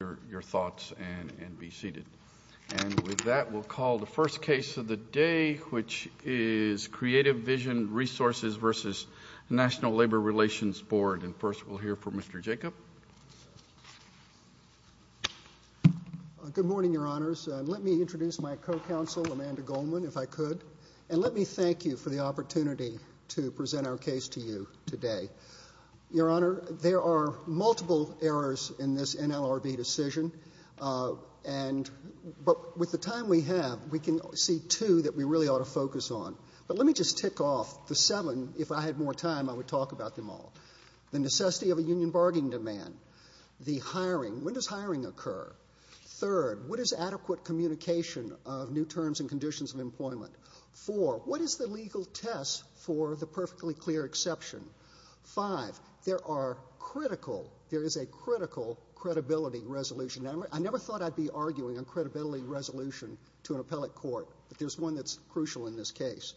and be seated. And with that, we'll call the first case of the day, which is Creative Vision Resources v. National Labor Relations Board. And first, we'll hear from Mr. Jacob. Good morning, Your Honors. Let me introduce my co-counsel, Amanda Goldman, if I could. And let me thank you for the opportunity to present our case to you today. Your Honor, there are But with the time we have, we can see two that we really ought to focus on. But let me just tick off the seven. If I had more time, I would talk about them all. The necessity of a union bargain demand. The hiring. When does hiring occur? Third, what is adequate communication of new terms and conditions of employment? Four, what is the legal test for the perfectly clear exception? Five, there is a critical credibility resolution. I never thought I'd be arguing on credibility resolution to an appellate court, but there's one that's crucial in this case.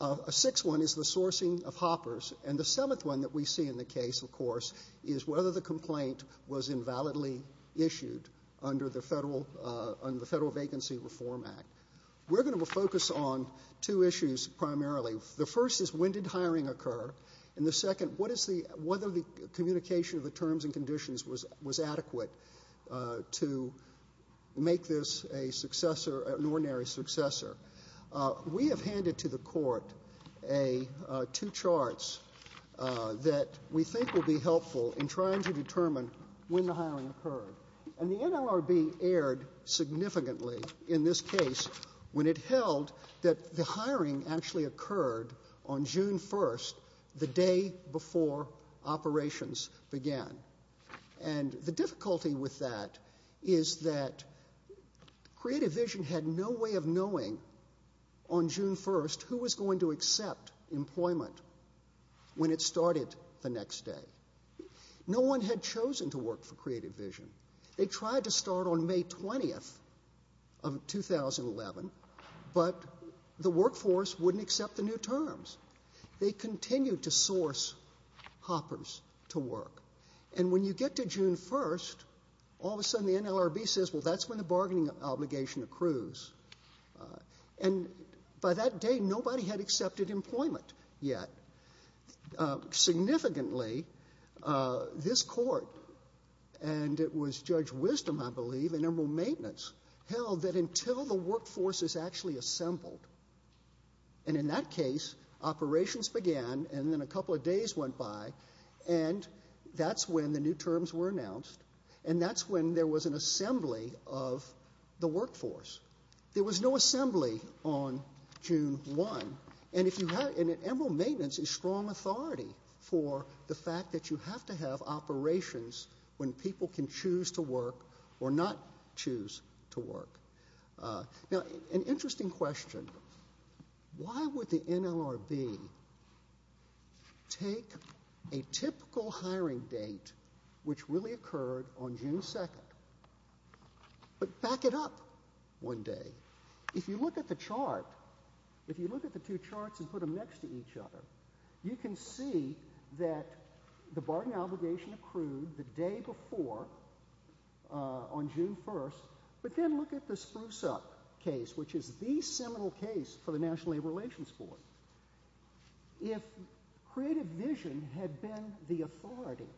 A sixth one is the sourcing of hoppers. And the seventh one that we see in the case, of course, is whether the complaint was invalidly issued under the Federal Vacancy Reform Act. We're going to focus on two issues primarily. The first is when did hiring occur? And the second, what is the, whether the communication of the terms and conditions was adequate to make this a successor, an ordinary successor? We have handed to the Court two charts that we think will be helpful in trying to determine when the hiring occurred. And the NLRB erred significantly in this case when it held that the hiring actually occurred on June 1st, the day before operations began. And the difficulty with that is that Creative Vision had no way of knowing on June 1st who was going to accept employment when it started the next day. No one had chosen to work for Creative Vision. They tried to start on June 1st, but they didn't accept the new terms. They continued to source hoppers to work. And when you get to June 1st, all of a sudden the NLRB says, well, that's when the bargaining obligation accrues. And by that day, nobody had accepted employment yet. Significantly, this Court, and it was Judge Wisdom, I believe, and Admiral Maintenance, held that until the workforce is actually assembled and in that case, operations began, and then a couple of days went by, and that's when the new terms were announced, and that's when there was an assembly of the workforce. There was no assembly on June 1, and Admiral Maintenance is strong authority for the fact that you have to have operations when people can choose to work or not choose to work. Now, an interesting question. Why would the NLRB take a typical hiring date, which really occurred on June 2nd, but back it up one day? If you look at the chart, if you look at the two charts and put them next to each other, you can see that the bargaining obligation accrued the day before on June 1st, but then look at the Spruce Up case, which is the seminal case for the National Labor Relations Board. If creative vision had been the authority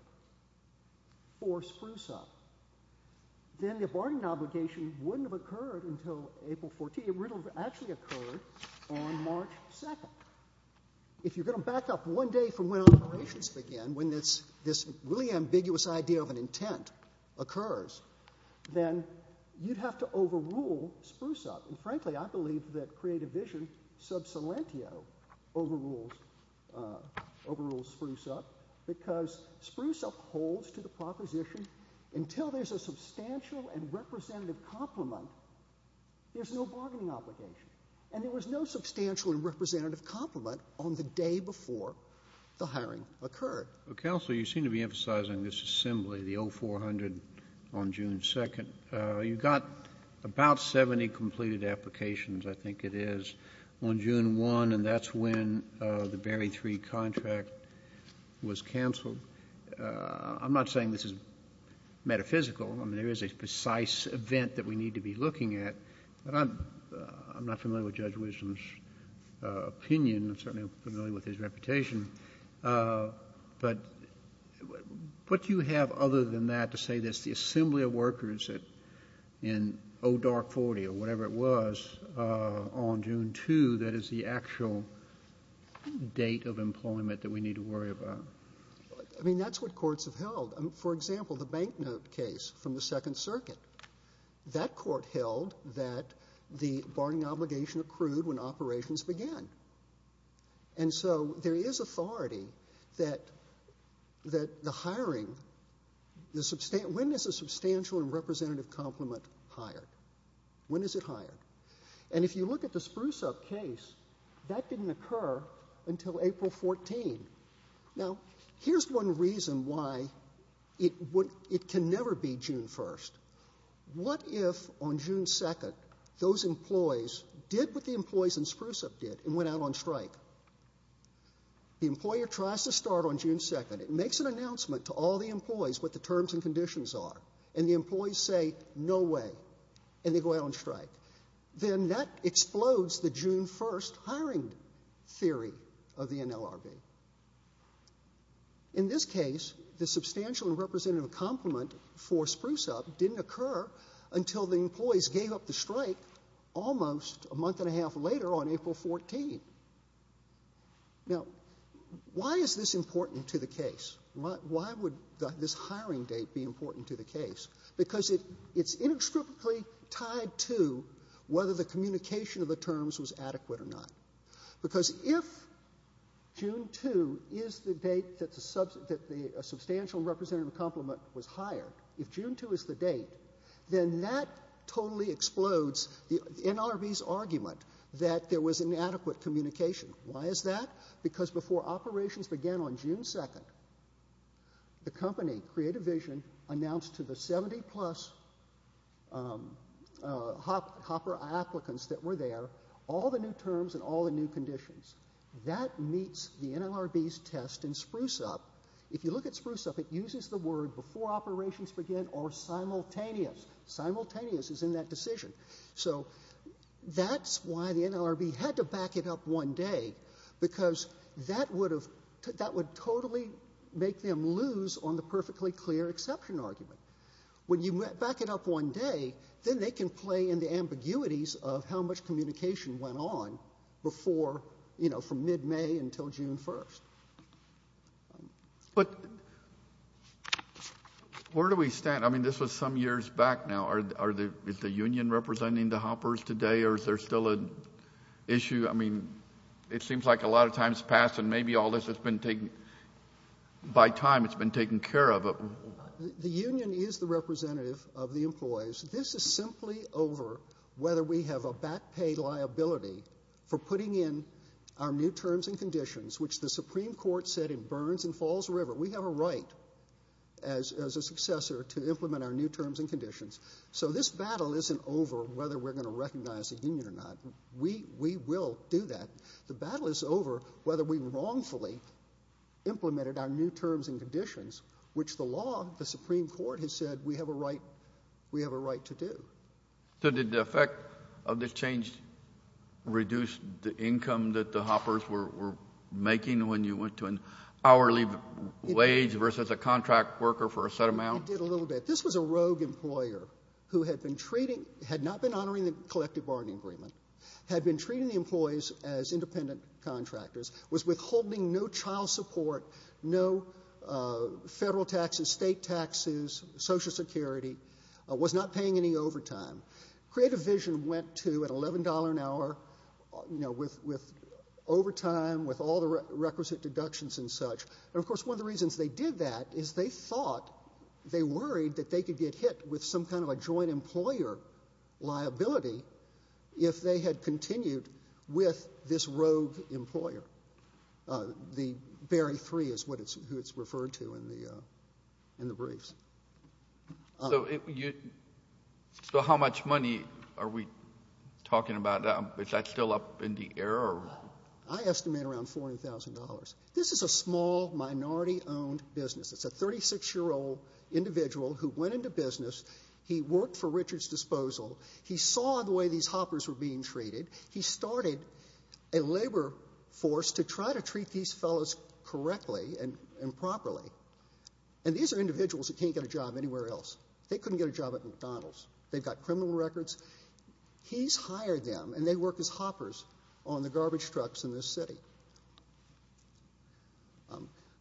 for Spruce Up, then the bargaining obligation wouldn't have occurred until April 14. It would have actually occurred on March 2nd. If you're going to back up one day from when operations began, when this really ambiguous idea of an intent occurs, then you'd have to overrule the Spruce Up. And frankly, I believe that creative vision sub salentio overrules Spruce Up, because Spruce Up holds to the proposition until there's a substantial and representative compliment, there's no bargaining obligation. And there was no substantial and representative compliment on the day before the hiring occurred. Counsel, you seem to be emphasizing this assembly, the 0400 on June 2nd. You've got about a hundred applications. About 70 completed applications, I think it is, on June 1, and that's when the Berry 3 contract was canceled. I'm not saying this is metaphysical. I mean, there is a precise event that we need to be looking at. I'm not familiar with Judge Wisdom's opinion. I'm certainly not familiar with his reputation. But what you have other than that to say that it's the assembly of workers in ODARC 040 or whatever it was on June 2 that is the actual date of employment that we need to worry about? I mean, that's what courts have held. For example, the bank note case from the Second Circuit. That court held that the bargaining obligation accrued when operations began. And so there is authority that the hiring, when is a substantial and representative compliment hired? When is it hired? And if you look at the Spruce-Up case, that didn't occur until April 14. Now, here's one reason why it can never be June 1. What if on June 2 those employees did what the employees in Spruce-Up did and went out on strike? The employer tries to start on June 2. It makes an announcement to all the employees what the terms and conditions are, and the employees say no way, and they go out on strike. Then that explodes the June 1 hiring theory of the NLRB. In this case, the substantial and representative compliment for Spruce-Up didn't occur until the employees gave up the strike almost a month and a half later on April 14. Now, why is this important to the case? Why would this hiring date be important to the case? It's inextricably tied to whether the communication of the terms was adequate or not. Because if June 2 is the date that the substantial and representative compliment was hired, if June 2 is the date, then that totally explodes the NLRB's argument that there was inadequate communication. Why is that? Because before operations began on June 2, the company, Creative Vision, announced to the 70-plus Hopper applicants that were there all the new terms and all the new conditions. That meets the NLRB's test in Spruce-Up. If you look at Spruce-Up, it uses the word before operations began or simultaneous. Simultaneous is in that decision. So that's why the NLRB had to back it up one day, because that would totally make them lose on a perfectly clear exception argument. When you back it up one day, then they can play in the ambiguities of how much communication went on before, you know, from mid-May until June 1. But where do we stand? I mean, this was some years back now. Is the union representing the Hoppers today, or is there still an issue? I mean, it seems like a lot of time has passed, and maybe all this has been taken, by time it's been taken care of. The union is the representative of the employees. This is simply over whether we have a back pay liability for putting in our new terms and conditions, which the Supreme Court said in Burns and Falls River, we have a right as a successor to implement our new terms and conditions. So this battle isn't over whether we're going to successfully implement our new terms and conditions, which the law, the Supreme Court has said we have a right to do. So did the effect of this change reduce the income that the Hoppers were making when you went to an hourly wage versus a contract worker for a set amount? It did a little bit. This was a rogue employer who had been treating — had not been honoring the collective bargaining agreement, had been treating the employees as independent contractors, was withholding no child support, no federal taxes, state taxes, Social Security, was not paying any overtime. Creative Vision went to an $11 an hour, you know, with overtime, with all the requisite deductions and such. And, of course, one of the reasons they did that is they thought — they worried that they could get hit with some kind of a joint employer liability if they had continued with this rogue employer. The Berry Three is who it's referred to in the briefs. So how much money are we talking about now? Is that still up in the air? I estimate around $40,000. This is a small, minority-owned business. It's a 36-year-old individual who went into business. He worked for Richard's Disposal. He saw the way these hoppers were being treated. He started a labor force to try to treat these fellows correctly and properly. And these are individuals who can't get a job anywhere else. They couldn't get a job at McDonald's. They've got criminal records. He's hired them, and they work as hoppers on the garbage trucks in this city.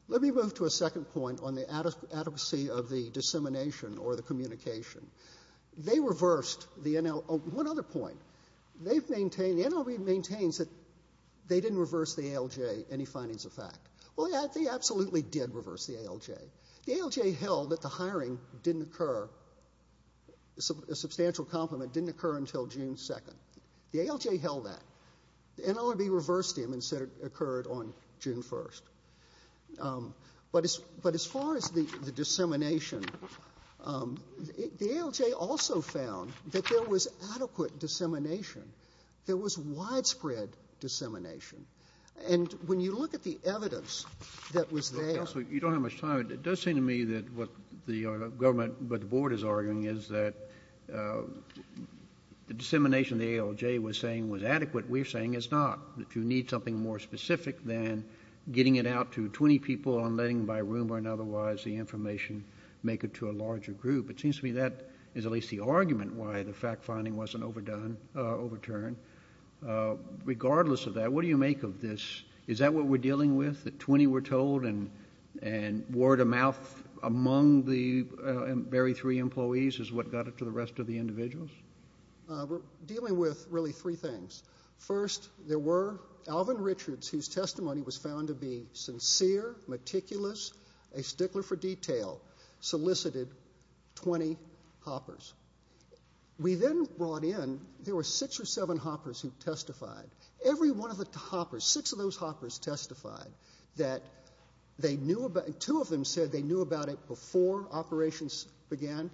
Let me move to a second point on the adequacy of the dissemination or the communication. They reversed the — one other point. They've maintained — the NLB maintains that they didn't reverse the ALJ, any findings of fact. Well, they absolutely did reverse the ALJ. The ALJ held that the hiring didn't occur — a substantial complement didn't occur until June 2nd. The ALJ held that. The NLB reversed him and said it occurred on June 1st. But as far as the dissemination, the ALJ also found that there was adequate dissemination. There was widespread dissemination. And when you look at the evidence that was there — Counsel, you don't have much time. It does seem to me that what the government, what the board is arguing is that the dissemination the ALJ was saying was adequate. We're saying it's not, that you need something more specific than getting it out to 20 people and letting by rumor and otherwise the information make it to a larger group. It seems to me that is at least the argument why the fact finding wasn't overturned. Regardless of that, what do you make of this? Is that what we're dealing with, that 20 were told and word of mouth among the very three employees is what got it to the rest of the individuals? We're dealing with really three things. First, there were — Alvin Richards, whose testimony was found to be sincere, meticulous, a stickler for detail, solicited 20 hoppers. We then brought in — there were six or seven hoppers who testified. Every one of the hoppers, six of those hoppers testified that they knew about — two of them said they knew about it before operations began.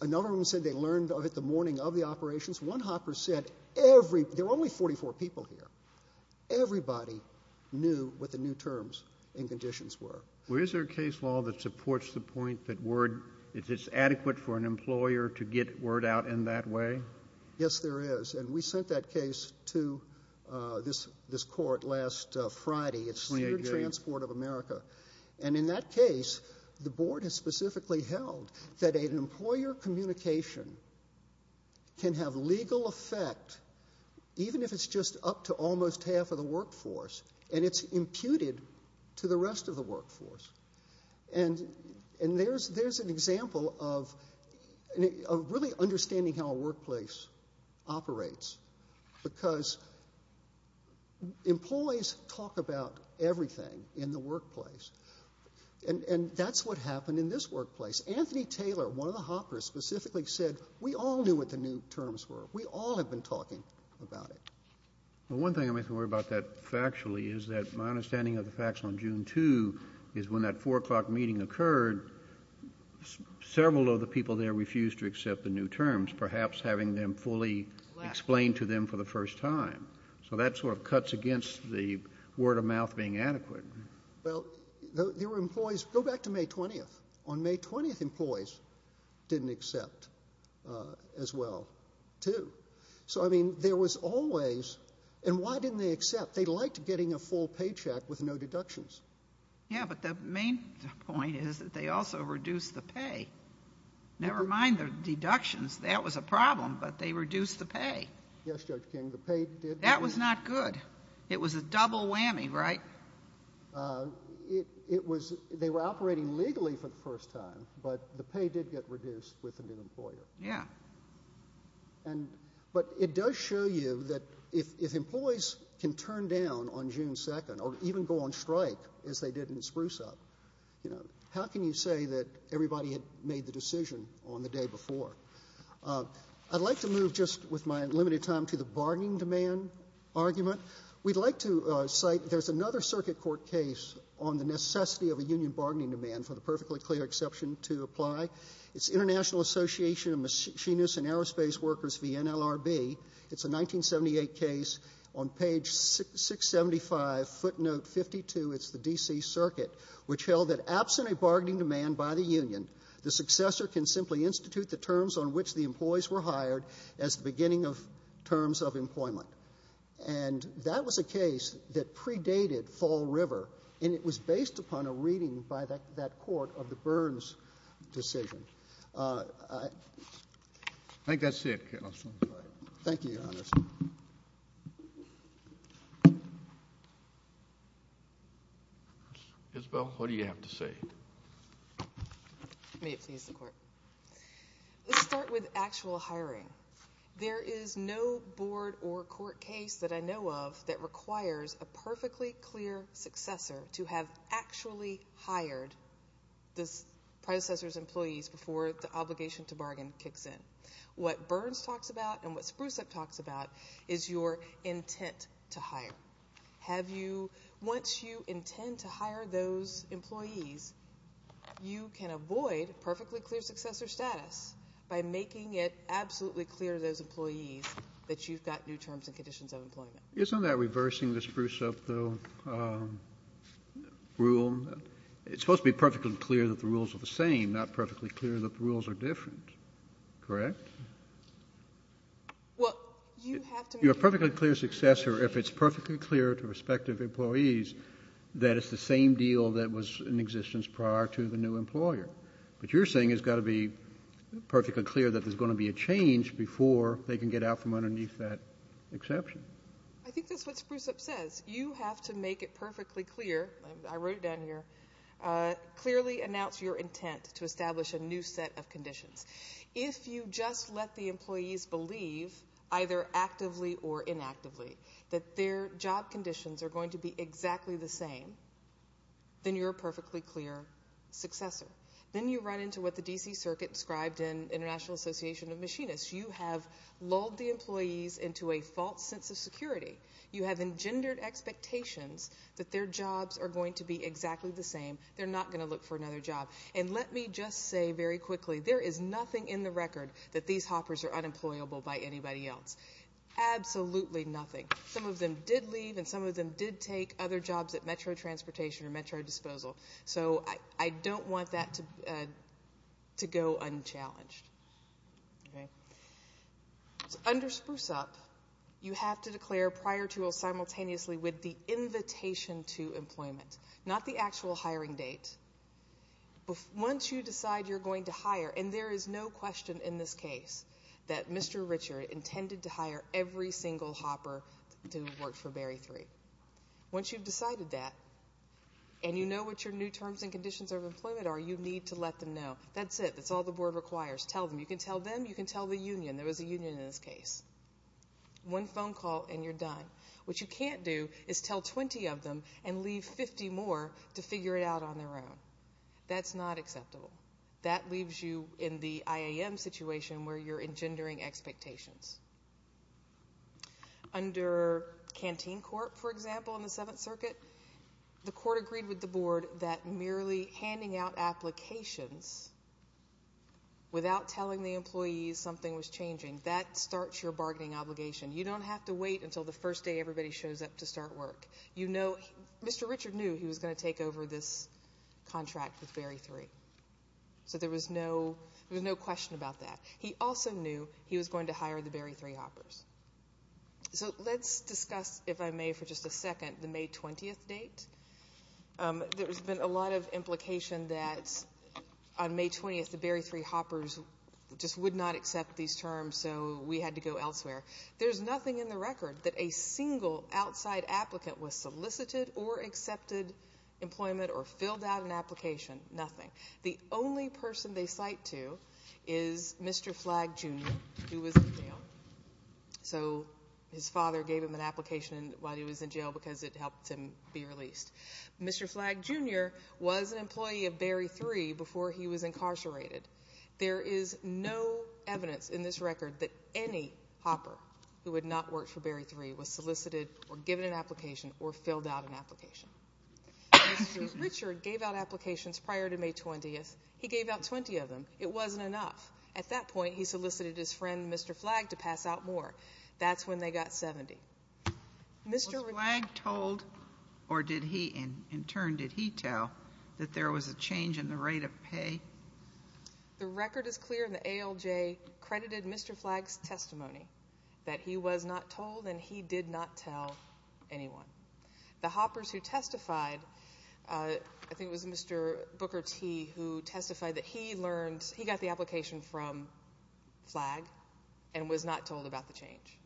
Another one said they learned of it the morning of the operations. One hopper said every — there were only 44 people here. Everybody knew what the new terms and conditions were. Well, is there a case law that supports the point that word — if it's adequate for an employer to get word out in that way? Yes, there is. And we sent that case to this court last Friday. It's Cedar Transport of America. And in that case, the board has specifically held that an employer communication can have legal effect even if it's just up to almost half of the workforce, and it's imputed to the rest of the workforce. And there's an example of a really understandable understanding how a workplace operates, because employees talk about everything in the workplace. And that's what happened in this workplace. Anthony Taylor, one of the hoppers, specifically said, we all knew what the new terms were. We all have been talking about it. Well, one thing I may have to worry about that factually is that my understanding of the facts on June 2 is when that 4 o'clock meeting occurred, several of the people there refused to accept the new terms, perhaps having them fully explained to them for the first time. So that sort of cuts against the word of mouth being adequate. Well, there were employees — go back to May 20th. On May 20th, employees didn't accept as well, too. So, I mean, there was always — and why didn't they accept? They liked getting a full paycheck with no deductions. Yeah, but the main point is that they also reduced the pay. Never mind the deductions. That was a problem, but they reduced the pay. Yes, Judge King, the pay did — That was not good. It was a double whammy, right? It was — they were operating legally for the first time, but the pay did get reduced with a new down on June 2nd, or even go on strike, as they did in Spruce-Up. You know, how can you say that everybody had made the decision on the day before? I'd like to move, just with my limited time, to the bargaining demand argument. We'd like to cite — there's another circuit court case on the necessity of a union bargaining demand, for the perfectly clear exception to apply. It's International Association of Machinists and Aerospace Workers v. NLRB. It's a 1978 case. On page 675, footnote 52, it's the D.C. Circuit, which held that absent a bargaining demand by the union, the successor can simply institute the terms on which the employees were hired as the beginning of terms of employment. And that was a case that predated Fall River, and it was based upon a reading by that court of the Burns decision. I think that's it, Counsel. Thank you, Your Honor. Isabel, what do you have to say? May it please the Court. Let's start with actual hiring. There is no clear successor to have actually hired the predecessor's employees before the obligation to bargain kicks in. What Burns talks about and what Spruceup talks about is your intent to hire. Once you intend to hire those employees, you can avoid perfectly clear successor status by making it absolutely clear to those employees that you've got new terms and conditions of employment. Isn't that reversing the Spruceup, though, rule? It's supposed to be perfectly clear that the rules are the same, not perfectly clear that the rules are different. Correct? Well, you have to make it clear. Your perfectly clear successor, if it's perfectly clear to respective employees that it's the same deal that was in existence prior to the new exception. I think that's what Spruceup says. You have to make it perfectly clear. I wrote it down here. Clearly announce your intent to establish a new set of conditions. If you just let the employees believe, either actively or inactively, that their job conditions are going to be exactly the same, then you're a perfectly clear successor. Then you run into what the D.C. says. If you run the employees into a false sense of security, you have engendered expectations that their jobs are going to be exactly the same. They're not going to look for another job. And let me just say very quickly, there is nothing in the record that these hoppers are unemployable by anybody else. Absolutely nothing. Some of them did leave, and some of them did take other jobs at Metro transportation or Metro disposal. So I don't want that to go unchallenged. Under Spruceup, you have to declare prior to or simultaneously with the invitation to employment, not the actual hiring date. Once you decide you're going to hire, and there is no question in this case that Mr. Richard intended to hire every single hopper to work for Barry 3. Once you've decided that, and you know what your new terms and conditions of employment are, you need to let them know. That's it. That's all the board requires. Tell them. You can tell them. You can tell the union. There was a union in this case. One phone call, and you're done. What you can't do is tell 20 of them and leave 50 more to figure it out on their own. That's not acceptable. That leaves you in the IAM situation where you're engendering expectations. Under Canteen Court, for example, in the Seventh Circuit, the court agreed with the board that merely handing out applications without telling the employees something was changing, that starts your bargaining obligation. You don't have to wait until the first day everybody shows up to start work. You know Mr. Richard knew he was going to take over this contract with Barry 3. So there was no question about that. He also knew he was going to hire the Barry 3 hoppers. So let's discuss, if I may for just a second, the May 20th date. There's been a lot of implication that on May 20th the Barry 3 hoppers just would not accept these terms, so we had to go elsewhere. There's nothing in the record that a single outside applicant was solicited or accepted employment or filled out an application. Nothing. The only person they cite to this record is Mr. Flagg Jr., who was in jail. So his father gave him an application while he was in jail because it helped him be released. Mr. Flagg Jr. was an employee of Barry 3 before he was incarcerated. There is no evidence in this record that any hopper who had not worked for Barry 3 was solicited or given an application or filled out an application. Mr. Richard gave out applications prior to May 20th. He gave out 20 of them. It wasn't enough. At that point he solicited his friend, Mr. Flagg, to pass out more. That's when they got 70. Was Flagg told or in turn did he tell that there was a change in the rate of pay? The record is clear and the ALJ credited Mr. Flagg's testimony that he was not told and he did not tell anyone. The hoppers who testified, I think it was Mr. Booker T. who testified that he learned, he got the application from Flagg and was not told about the change.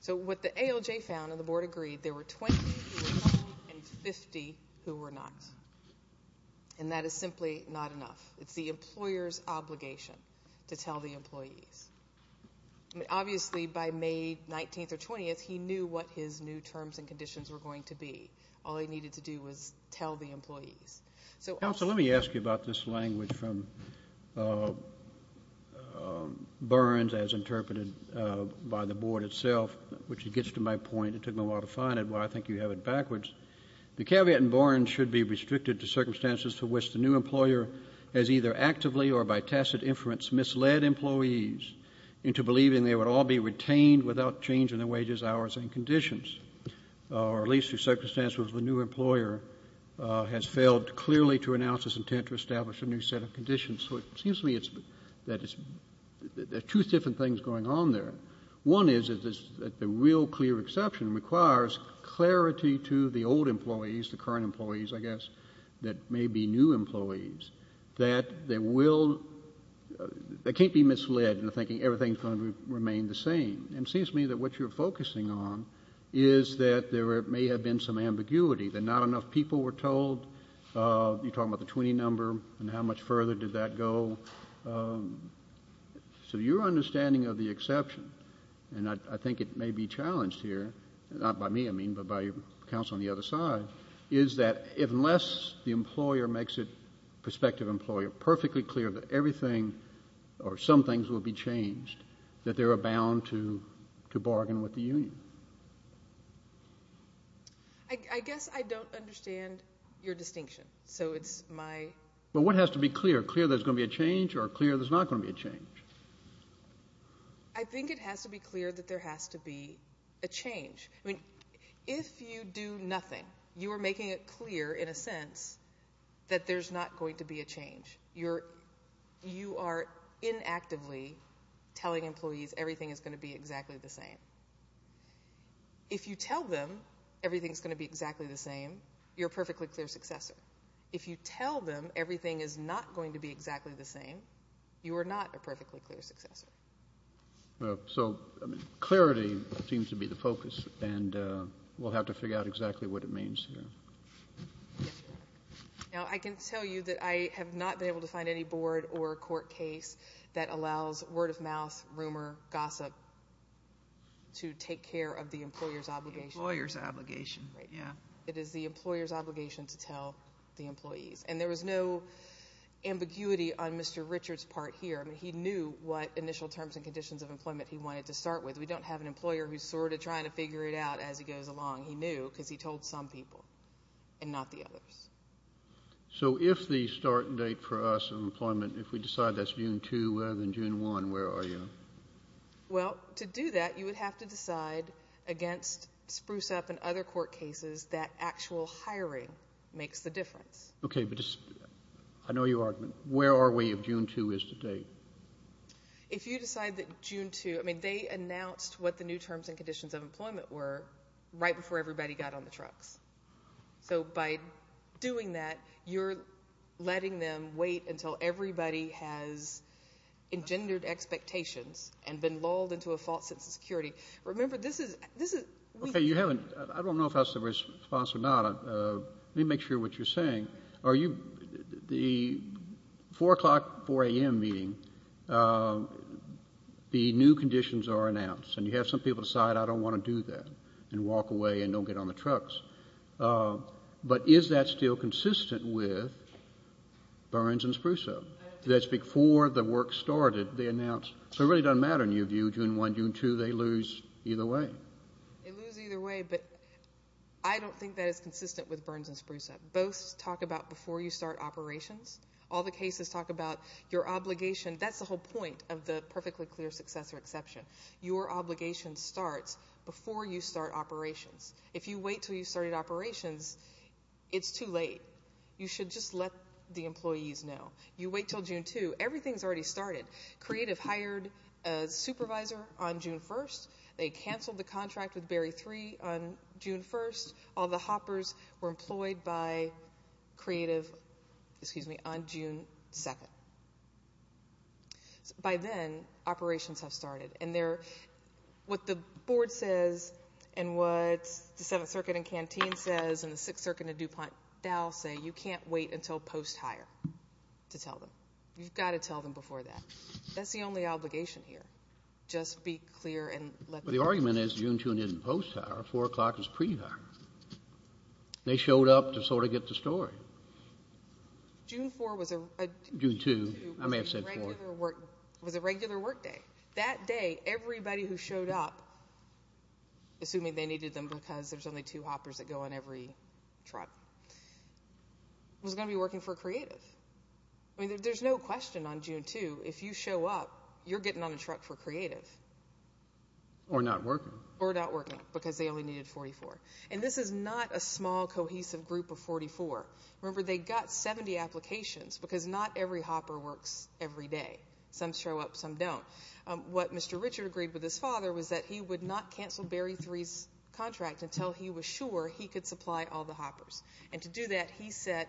So what the ALJ found and the board agreed, there were 20 who were told and 50 who were not. And that is simply not enough. It's the employer's obligation to tell the employees. Obviously by May 19th or 20th he knew what his new terms and conditions were going to be. All he needed to do was tell the employees. Counsel, let me ask you about this language from Burns as interpreted by the board itself, which gets to my point. It took me a while to find it, but I think you have it backwards. The caveat in Burns should be restricted to circumstances to which the new employer has either actively or by tacit inference misled employees into believing they would all be satisfied with their wages, hours and conditions, or at least through circumstances where the new employer has failed clearly to announce his intent to establish a new set of conditions. So it seems to me that there are two different things going on there. One is that the real clear exception requires clarity to the old employees, the current employees, I guess, that may be new employees, that they will, they can't be misled into thinking everything is going to remain the same. And it seems to me that what the board is focusing on is that there may have been some ambiguity, that not enough people were told, you're talking about the 20 number and how much further did that go. So your understanding of the exception, and I think it may be challenged here, not by me, I mean, but by counsel on the other side, is that unless the employer makes it, prospective employer, perfectly clear that everything or some things will be changed, that they are bound to bargain with the union. I guess I don't understand your distinction. So it's my... Well, what has to be clear? Clear there's going to be a change or clear there's not going to be a change? I think it has to be clear that there has to be a change. I mean, if you do nothing, you are making it clear in a sense that there's not going to be a change. You are inactively telling employees everything is going to be exactly the same. If you tell them everything is going to be exactly the same, you're a perfectly clear successor. If you tell them everything is not going to be exactly the same, you are not a perfectly clear successor. So clarity seems to be the focus and we'll have to figure out exactly what it means here. Now, I can tell you that I have not been able to find any board or court case that allows word of mouth, rumor, gossip to take care of the employer's obligation. Employer's obligation, yeah. It is the employer's obligation to tell the employees. And there was no ambiguity on Mr. Richard's part here. I mean, he knew what initial terms and conditions of employment he wanted to start with. We don't have an employer who's sort of trying to figure it out as he goes along. He knew because he told some people and not the others. So if the start date for us in employment, if we decide that's June 2 rather than June 1, where are you? Well, to do that, you would have to decide against Spruce Up and other court cases that actual hiring makes the difference. Okay, but I know your argument. Where are we if June 2 is today? If you decide that June 2, I mean, they announced what the new terms and conditions of employment were right before everybody got on the trucks. So by doing that, you're letting them wait until everybody has engendered expectations and been lulled into a false sense of security. Remember, this is we... Okay, you haven't, I don't know if that's the response or not. Let me make sure what you're saying. The 4 o'clock, 4 a.m. meeting, the new conditions are announced and you have some people decide I don't want to do that and walk away and don't get on the truck. Burns and Spruce Up, that's before the work started, they announced. So it really doesn't matter in your view, June 1, June 2, they lose either way. They lose either way, but I don't think that is consistent with Burns and Spruce Up. Both talk about before you start operations. All the cases talk about your obligation. That's the whole point of the perfectly clear successor exception. Your obligation starts before you start operations. If you wait until you start operations, it's too late. You should just let them know. You wait until June 2. Everything's already started. Creative hired a supervisor on June 1. They canceled the contract with Barry 3 on June 1. All the hoppers were employed by Creative, excuse me, on June 2. By then, operations have started and what the board says and what the 7th Circuit in Canteen says and the 6th Circuit in DuPont-Dowell say, you can't wait until post-hire. You've got to tell them before that. That's the only obligation here. Just be clear and let them know. The argument is June 2 isn't post-hire, 4 o'clock is pre-hire. They showed up to sort of get the story. June 4 was a regular work day. That day, everybody who showed up, assuming they needed them because there's only two hoppers that go on every truck, was going to be working for Creative. There's no question on June 2, if you show up, you're getting on a truck for Creative. Or not working. Or not working because they only needed 44. This is not a small, cohesive group of 44. Remember, they got 70 applications because not every hopper works every day. Some show up, some don't. What Mr. Richard agreed with his father was that he would not cancel Barry 3's contract until he was sure he could supply all the hoppers. And to do that, he set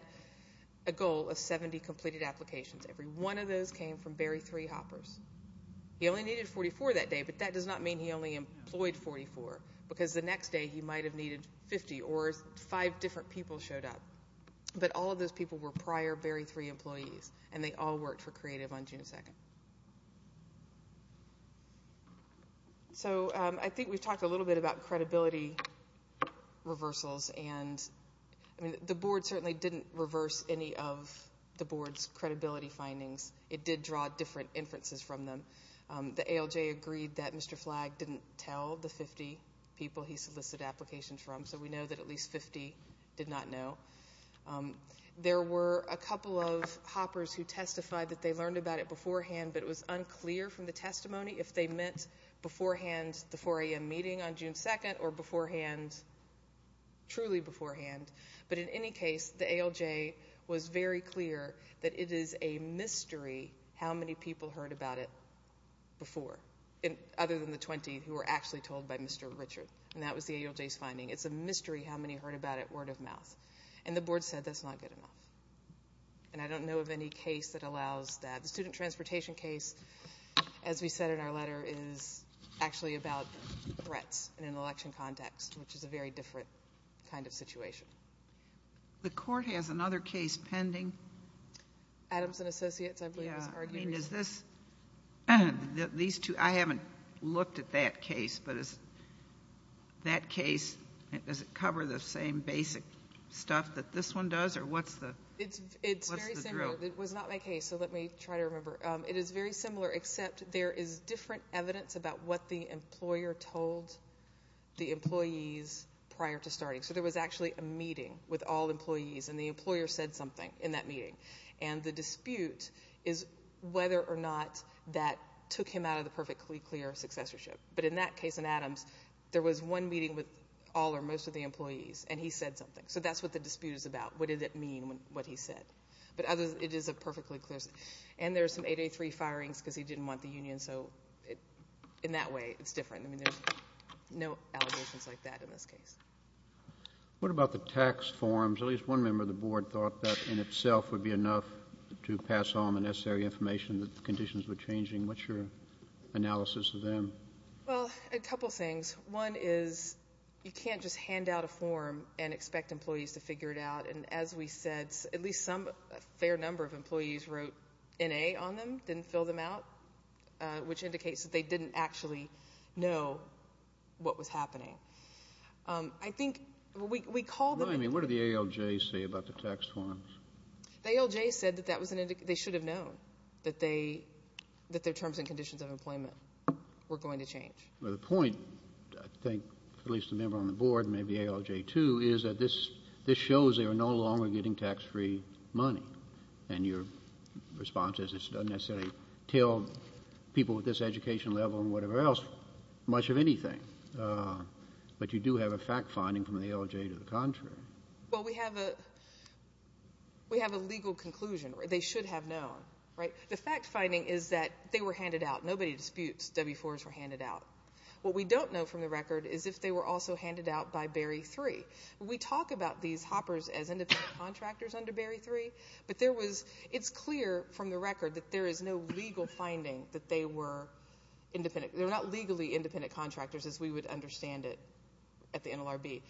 a goal of 70 completed applications. Every one of those came from Barry 3 hoppers. He only needed 44 that day, but that does not mean he only employed 44 because the next day, he might have needed 50 or five different people showed up. But all of those people were prior Barry 3 employees, and they all worked for Creative on June 2. So I think we've talked a little bit about credibility. We've talked a little bit about the ALJ reversals. The board certainly didn't reverse any of the board's credibility findings. It did draw different inferences from them. The ALJ agreed that Mr. Flagg didn't tell the 50 people he solicited applications from, so we know that at least 50 did not know. There were a couple of hoppers who testified that they learned about it beforehand, but it was unclear from the testimony if they meant beforehand the 4 a.m. meeting on June 2 or truly beforehand. But in any case, the ALJ was very clear that it is a mystery how many people heard about it before, other than the 20 who were actually told by Mr. Richard. And that was the ALJ's finding. It's a mystery how many heard about it word of mouth. And the board said that's not good enough. And I don't know of any case that allows that. The student transportation case, as we said in our letter, is actually about threats in an election context, which is a very different kind of situation. The court has another case pending. Adams & Associates, I believe, was argued recently. I haven't looked at that case, but is that case, does it cover the same basic stuff that this one does, or what's the drill? It's very similar. It was not my case, so let me try to remember. It is very similar, except there is different evidence about what the employer told the employees prior to starting. So there was actually a meeting with all employees, and the employer said something in that meeting. And the dispute is whether or not that took him out of the perfectly clear successorship. But in that case in Adams, there was one meeting with all or most of the employees, and he said something. So that's what the dispute is about. What did it mean, what he said. But it is a perfectly clear, and there's some 883 firings because he didn't want the union. So in that way, it's different. I mean, there's no allegations like that in this case. What about the tax forms? At least one member of the board thought that in itself would be enough to pass on the necessary information that the conditions were changing. What's your analysis of them? Well, a couple of things. One is you can't just hand out a form and expect the union to figure it out. And as we said, at least some, a fair number of employees wrote N.A. on them, didn't fill them out, which indicates that they didn't actually know what was happening. I think, we called them. Well, I mean, what did the ALJ say about the tax forms? The ALJ said that that was an indication, they should have known that their terms and conditions of employment were going to change. Well, the point, I think, at least the member on the board, maybe ALJ too, is that this shows they are no longer getting tax-free money. And your response is it doesn't necessarily tell people with this education level and whatever else much of anything. But you do have a fact-finding from the ALJ to the contrary. Well, we have a legal conclusion. They should have known, right? The fact-finding is that they were handed out. Nobody disputes W-4s were handed out. What we don't know from the record is if they were also handed out by Berry 3. We talk about these hoppers as independent contractors under Berry 3, but there was, it's clear from the record that there is no legal finding that they were independent. They were not legally independent contractors as we would understand it at the NLRB.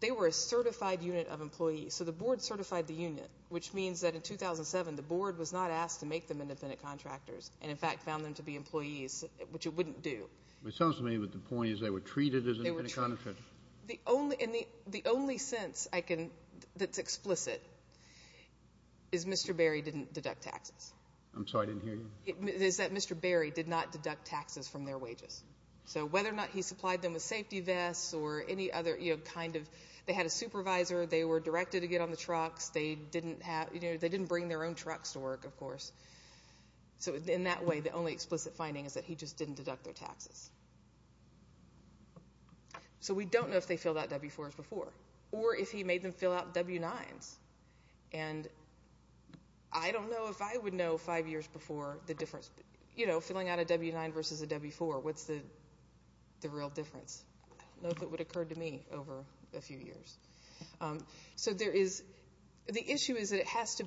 They were a certified unit of employees. So the board certified the union, which means that in 2007 the board was not asked to make them independent contractors and in fact found them to be employees, which it wouldn't do. It sounds to me that the point is they were treated as independent contractors. The only sense I can, that's explicit, is Mr. Berry didn't deduct taxes. I'm sorry, I didn't hear you. Is that Mr. Berry did not deduct taxes from their wages. So whether or not he supplied them with safety vests or any other kind of, they had a supervisor, they were employees. In that way the only explicit finding is that he just didn't deduct their taxes. So we don't know if they filled out W-4s before or if he made them fill out W-9s. And I don't know if I would know five years before the difference. You know, filling out a W-9 versus a W-4, what's the real difference? I don't know if it would have occurred to me over a few years. So there is, the issue is that it is a form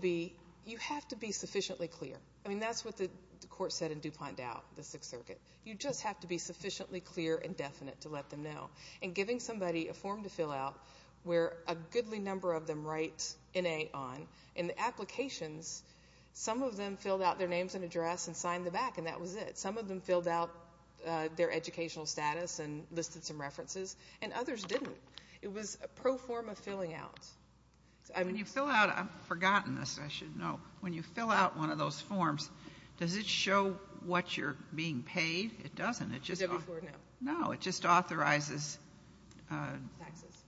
that the court set in DuPont Dow, the Sixth Circuit. You just have to be sufficiently clear and definite to let them know. And giving somebody a form to fill out where a goodly number of them write N-A on, in the applications some of them filled out their names and address and signed them back and that was it. Some of them filled out their educational status and listed some references and others didn't. It was a pro-form of filling out. When you fill out, I've forgotten this, I should know, when you fill out one of those forms, does it show what you're being paid? It doesn't. No, it just authorizes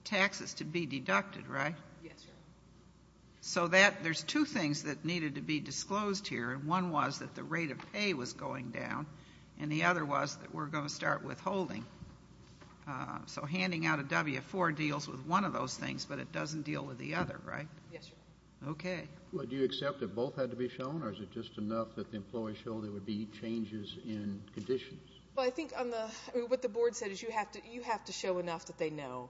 taxes to be deducted, right? Yes, Your Honor. So there's two things that needed to be disclosed here. One was that the rate of pay was going down and the other was that we're going to start withholding. So handing out a W-4 deals with one of those things but it doesn't deal with the other, right? Yes, Your Honor. Okay. Well, do you accept that both had to be shown or is it just enough that the employee showed there would be changes in conditions? Well, I think what the board said is you have to show enough that they know.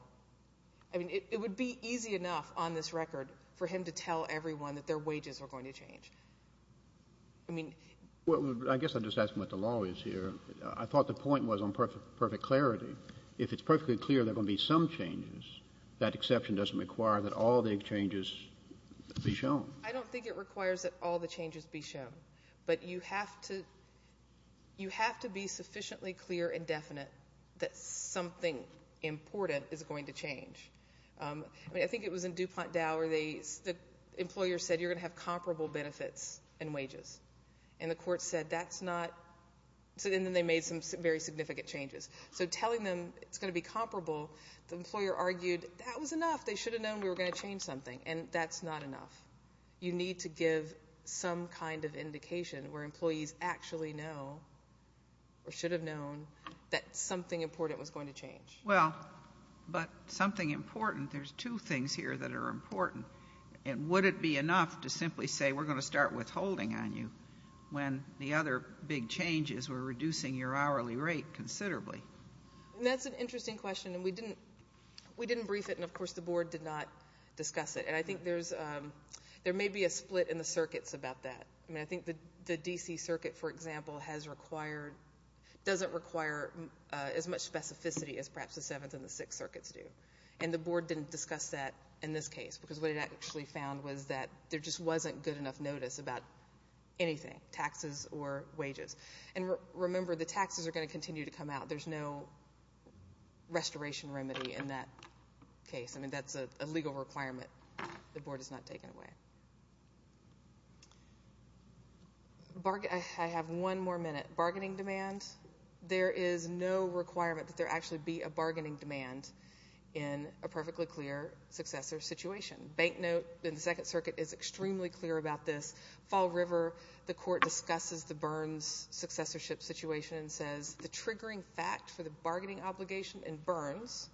I mean, it would be easy enough on this record for him to tell everyone that their wages are going to change. I mean... Well, I guess I'm just asking what the law is here. I thought the point was on perfect clarity. If it's perfectly clear there are going to be some changes, that exception doesn't require that all the changes be shown. I don't think it requires that all the changes be shown. But you have to be sufficiently clear and definite that something important is going to change. I mean, I think it was in DuPont Dow where the employer said you're going to have comparable benefits and wages. And the court said that's not... And then they made some very significant changes. So telling them it's going to be comparable, the court said, you need to give some kind of indication where employees actually know or should have known that something important was going to change. Well, but something important, there's two things here that are important. And would it be enough to simply say, we're going to start withholding on you when the other big changes were reducing your hourly rate considerably? And that's an interesting question. And we didn't brief it and, of course, the board did not discuss it. And I think there may be a split in the circuits about that. I mean, I think the D.C. circuit, for example, has required...doesn't require as much specificity as perhaps the Seventh and the Sixth circuits do. And the board didn't discuss that in this case because what it actually found was that there just wasn't good enough notice about anything, taxes or wages. And remember, the taxes are going to continue to come out. There's no restoration remedy in that case. I mean, that's a legal requirement. The board has not taken away. I have one more minute. Bargaining demand. There is no requirement that there actually be a bargaining demand in a perfectly clear successor situation. Banknote in the Second Circuit is extremely clear about this. Fall River, the court discusses the Burns successorship situation and says the triggering fact for the bargaining obligation in Burns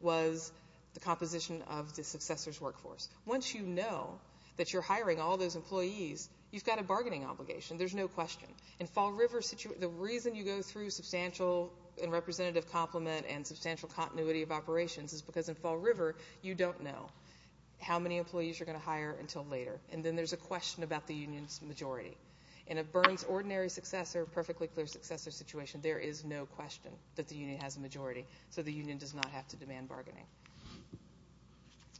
was the composition of the union. So if you're hiring all those employees, you've got a bargaining obligation. There's no question. In Fall River's situation, the reason you go through substantial and representative complement and substantial continuity of operations is because in Fall River, you don't know how many employees you're going to hire until later. And then there's a question about the union's majority. In a Burns ordinary successor, perfectly clear successor situation, there is no question that the union has a majority. So the union does not have to demand bargaining.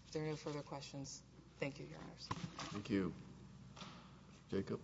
If there are no further questions, thank you, Your Honors. Thank you. Jacob.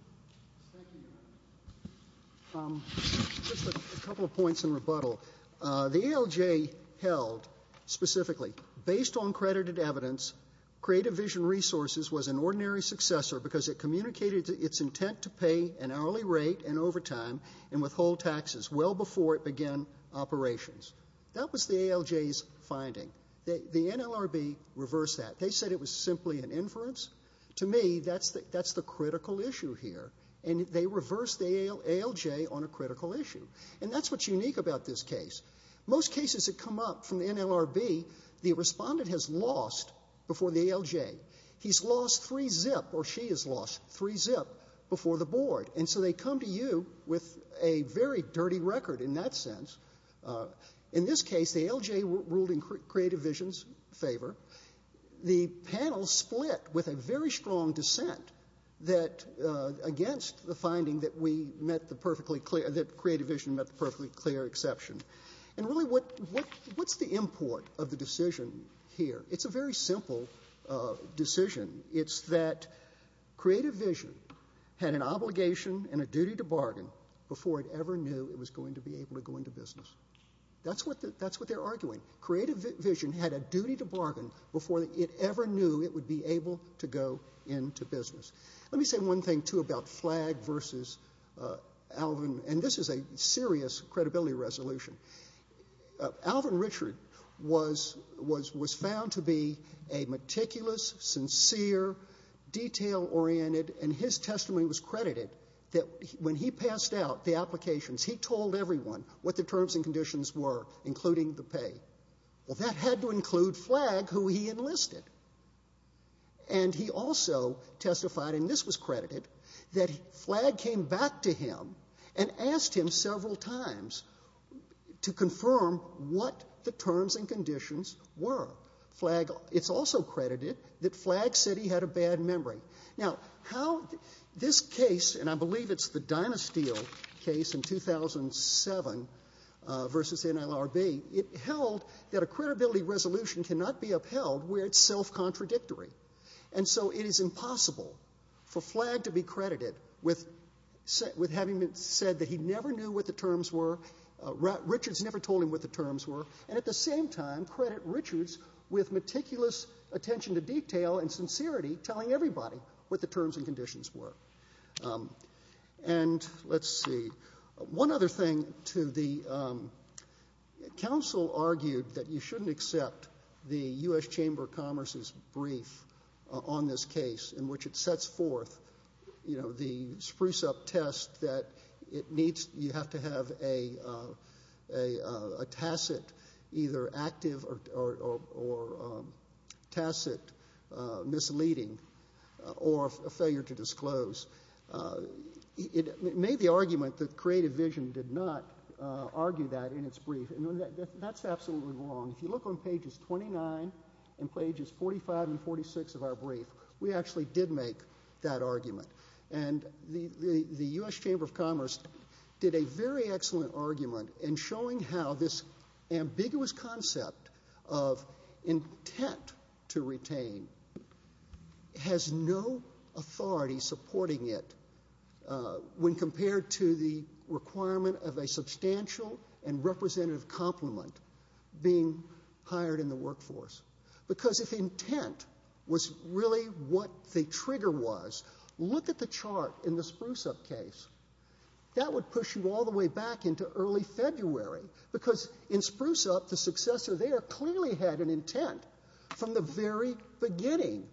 Just a couple of points in rebuttal. The ALJ held specifically, based on credited evidence, Creative Vision Resources was an ordinary successor because it communicated its intent to pay an hourly rate in overtime and withhold taxes well before it began operations. That was the ALJ's finding. The NLRB reversed that. They said it was simply an inference. To me, that's the critical issue here. And they reversed the ALJ on a critical issue. And that's what's unique about this case. Most cases that come up from the NLRB, the respondent has lost before the ALJ. He's lost three zip or she has lost three zip before the board. And so they come to you with a very dirty record in that sense. In this case, the ALJ ruled in Creative Vision's favor. The panel split with a very strong dissent against the finding that Creative Vision met the perfectly clear exception. And really, what's the import of the decision here? It's a very simple decision. It's that Creative Vision had an obligation and a duty to bargain before it ever knew it was going to be able to go into business. That's what they're arguing. Creative Vision had a duty to bargain before it ever knew it would be able to go into business. Let me say one thing, too, about Flag versus Alvin. And this is a serious credibility resolution. Alvin Richard was found to be a meticulous, sincere, detail-oriented, and his testimony was that when he passed out the applications, he told everyone what the terms and conditions were, including the pay. Well, that had to include Flag, who he enlisted. And he also testified, and this was credited, that Flag came back to him and asked him several times to confirm what the terms and conditions were. It's also credited that Flag said he had a bad memory. Now, how this case, and I believe it's the dynasty deal case in 2007 versus NLRB, it held that a credibility resolution cannot be upheld where it's self-contradictory. And so it is impossible for Flag to be credited with having said that he never knew what the terms were, Richard's never told him what the terms were, and at the same time credit Richard's with meticulous attention to detail and sincerity telling everybody what the terms and conditions were. And let's see, one other thing to the, counsel argued that you shouldn't accept the U.S. Chamber of Commerce's brief on this case, in which it sets forth, you know, the spruce-up test that it needs, you have to have a tacit, either active or tacit misleading, or a failure to disclose. It made the argument that Creative Vision did not argue that in its brief, and that's absolutely wrong. If you look on pages 29 and pages 45 and 46 of our brief, we actually did make that argument. And the U.S. Chamber of Commerce did a very excellent argument in showing how this ambiguous concept of intent to retain has no authority supporting the ability of the U.S. Chamber of Commerce to do so. And that's why we're not supporting it when compared to the requirement of a substantial and representative complement being hired in the workforce. Because if intent was really what the trigger was, look at the chart in the spruce-up case. That would push you all the way back into early February, because in spruce-up, the successor there clearly had an intent from the very beginning.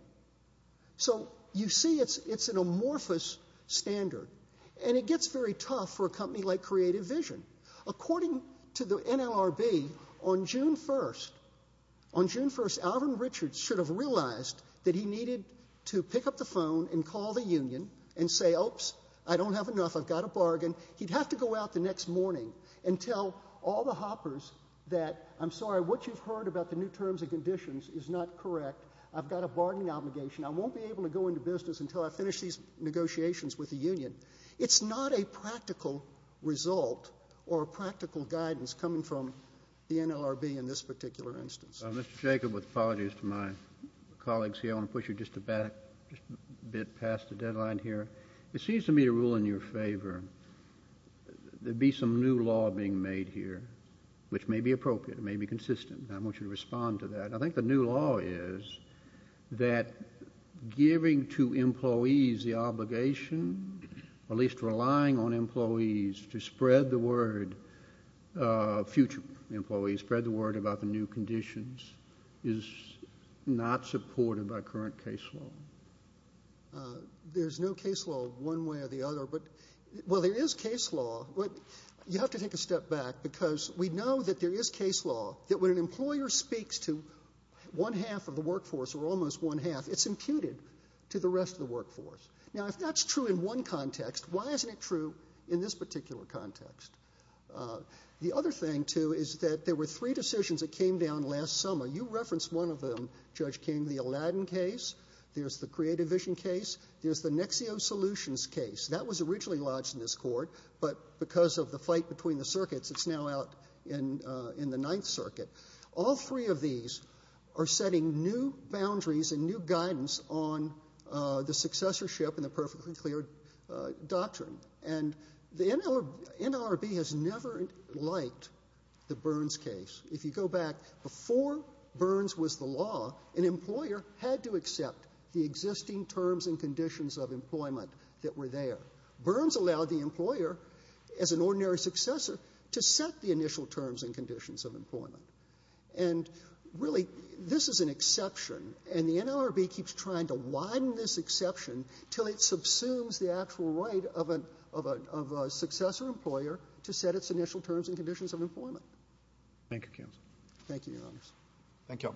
So you see it's an amorphous standard. And it gets very tough for a company like Creative Vision. According to the NLRB, on June 1st, on June 1st, Alvin Richards should have realized that he needed to pick up the phone and call the union and say, oops, I don't have enough, I've got a bargain. He'd have to go out the next morning and tell all the hoppers that, I'm sorry, what you've heard about the new terms and terms of negotiations with the union, it's not a practical result or practical guidance coming from the NLRB in this particular instance. Mr. Jacob, with apologies to my colleagues here, I want to push you just a bit past the deadline here. It seems to me to rule in your favor there'd be some new law being made here, which may be appropriate, it may be consistent, and I want you to respond to that. And I think the new law is that giving to employees the obligation, at least relying on employees, to spread the word, future employees, spread the word about the new conditions, is not supported by current case law. There's no case law one way or the other, but, well, there is case law. You have to take a step back because we know that there is case law that when an employer speaks to one half of the workforce or almost one half, it's imputed to the rest of the workforce. Now, if that's true in one context, why isn't it true in this particular context? The other thing, too, is that there were three decisions that came down last summer. You referenced one of them, Judge King, the Aladdin case, there's the Creative Vision case, there's the Nexio Solutions case. That was originally lodged in this court, but because of the fight between the circuits, it's now out in the Ninth Circuit. All three of these are setting new boundaries and new guidance on the successorship and the perfectly clear doctrine. And the NLRB has never liked the Burns case. If you go back before Burns was the law, an employer had to accept the existing terms and conditions of employment that were there. Burns allowed the employer, as an ordinary successor, to set the initial terms and conditions of employment. This is an exception, and the NLRB keeps trying to widen this exception until it subsumes the actual right of a successor employer to set its initial terms and conditions of employment. Thank you, Counsel. Thank you, Your Honors.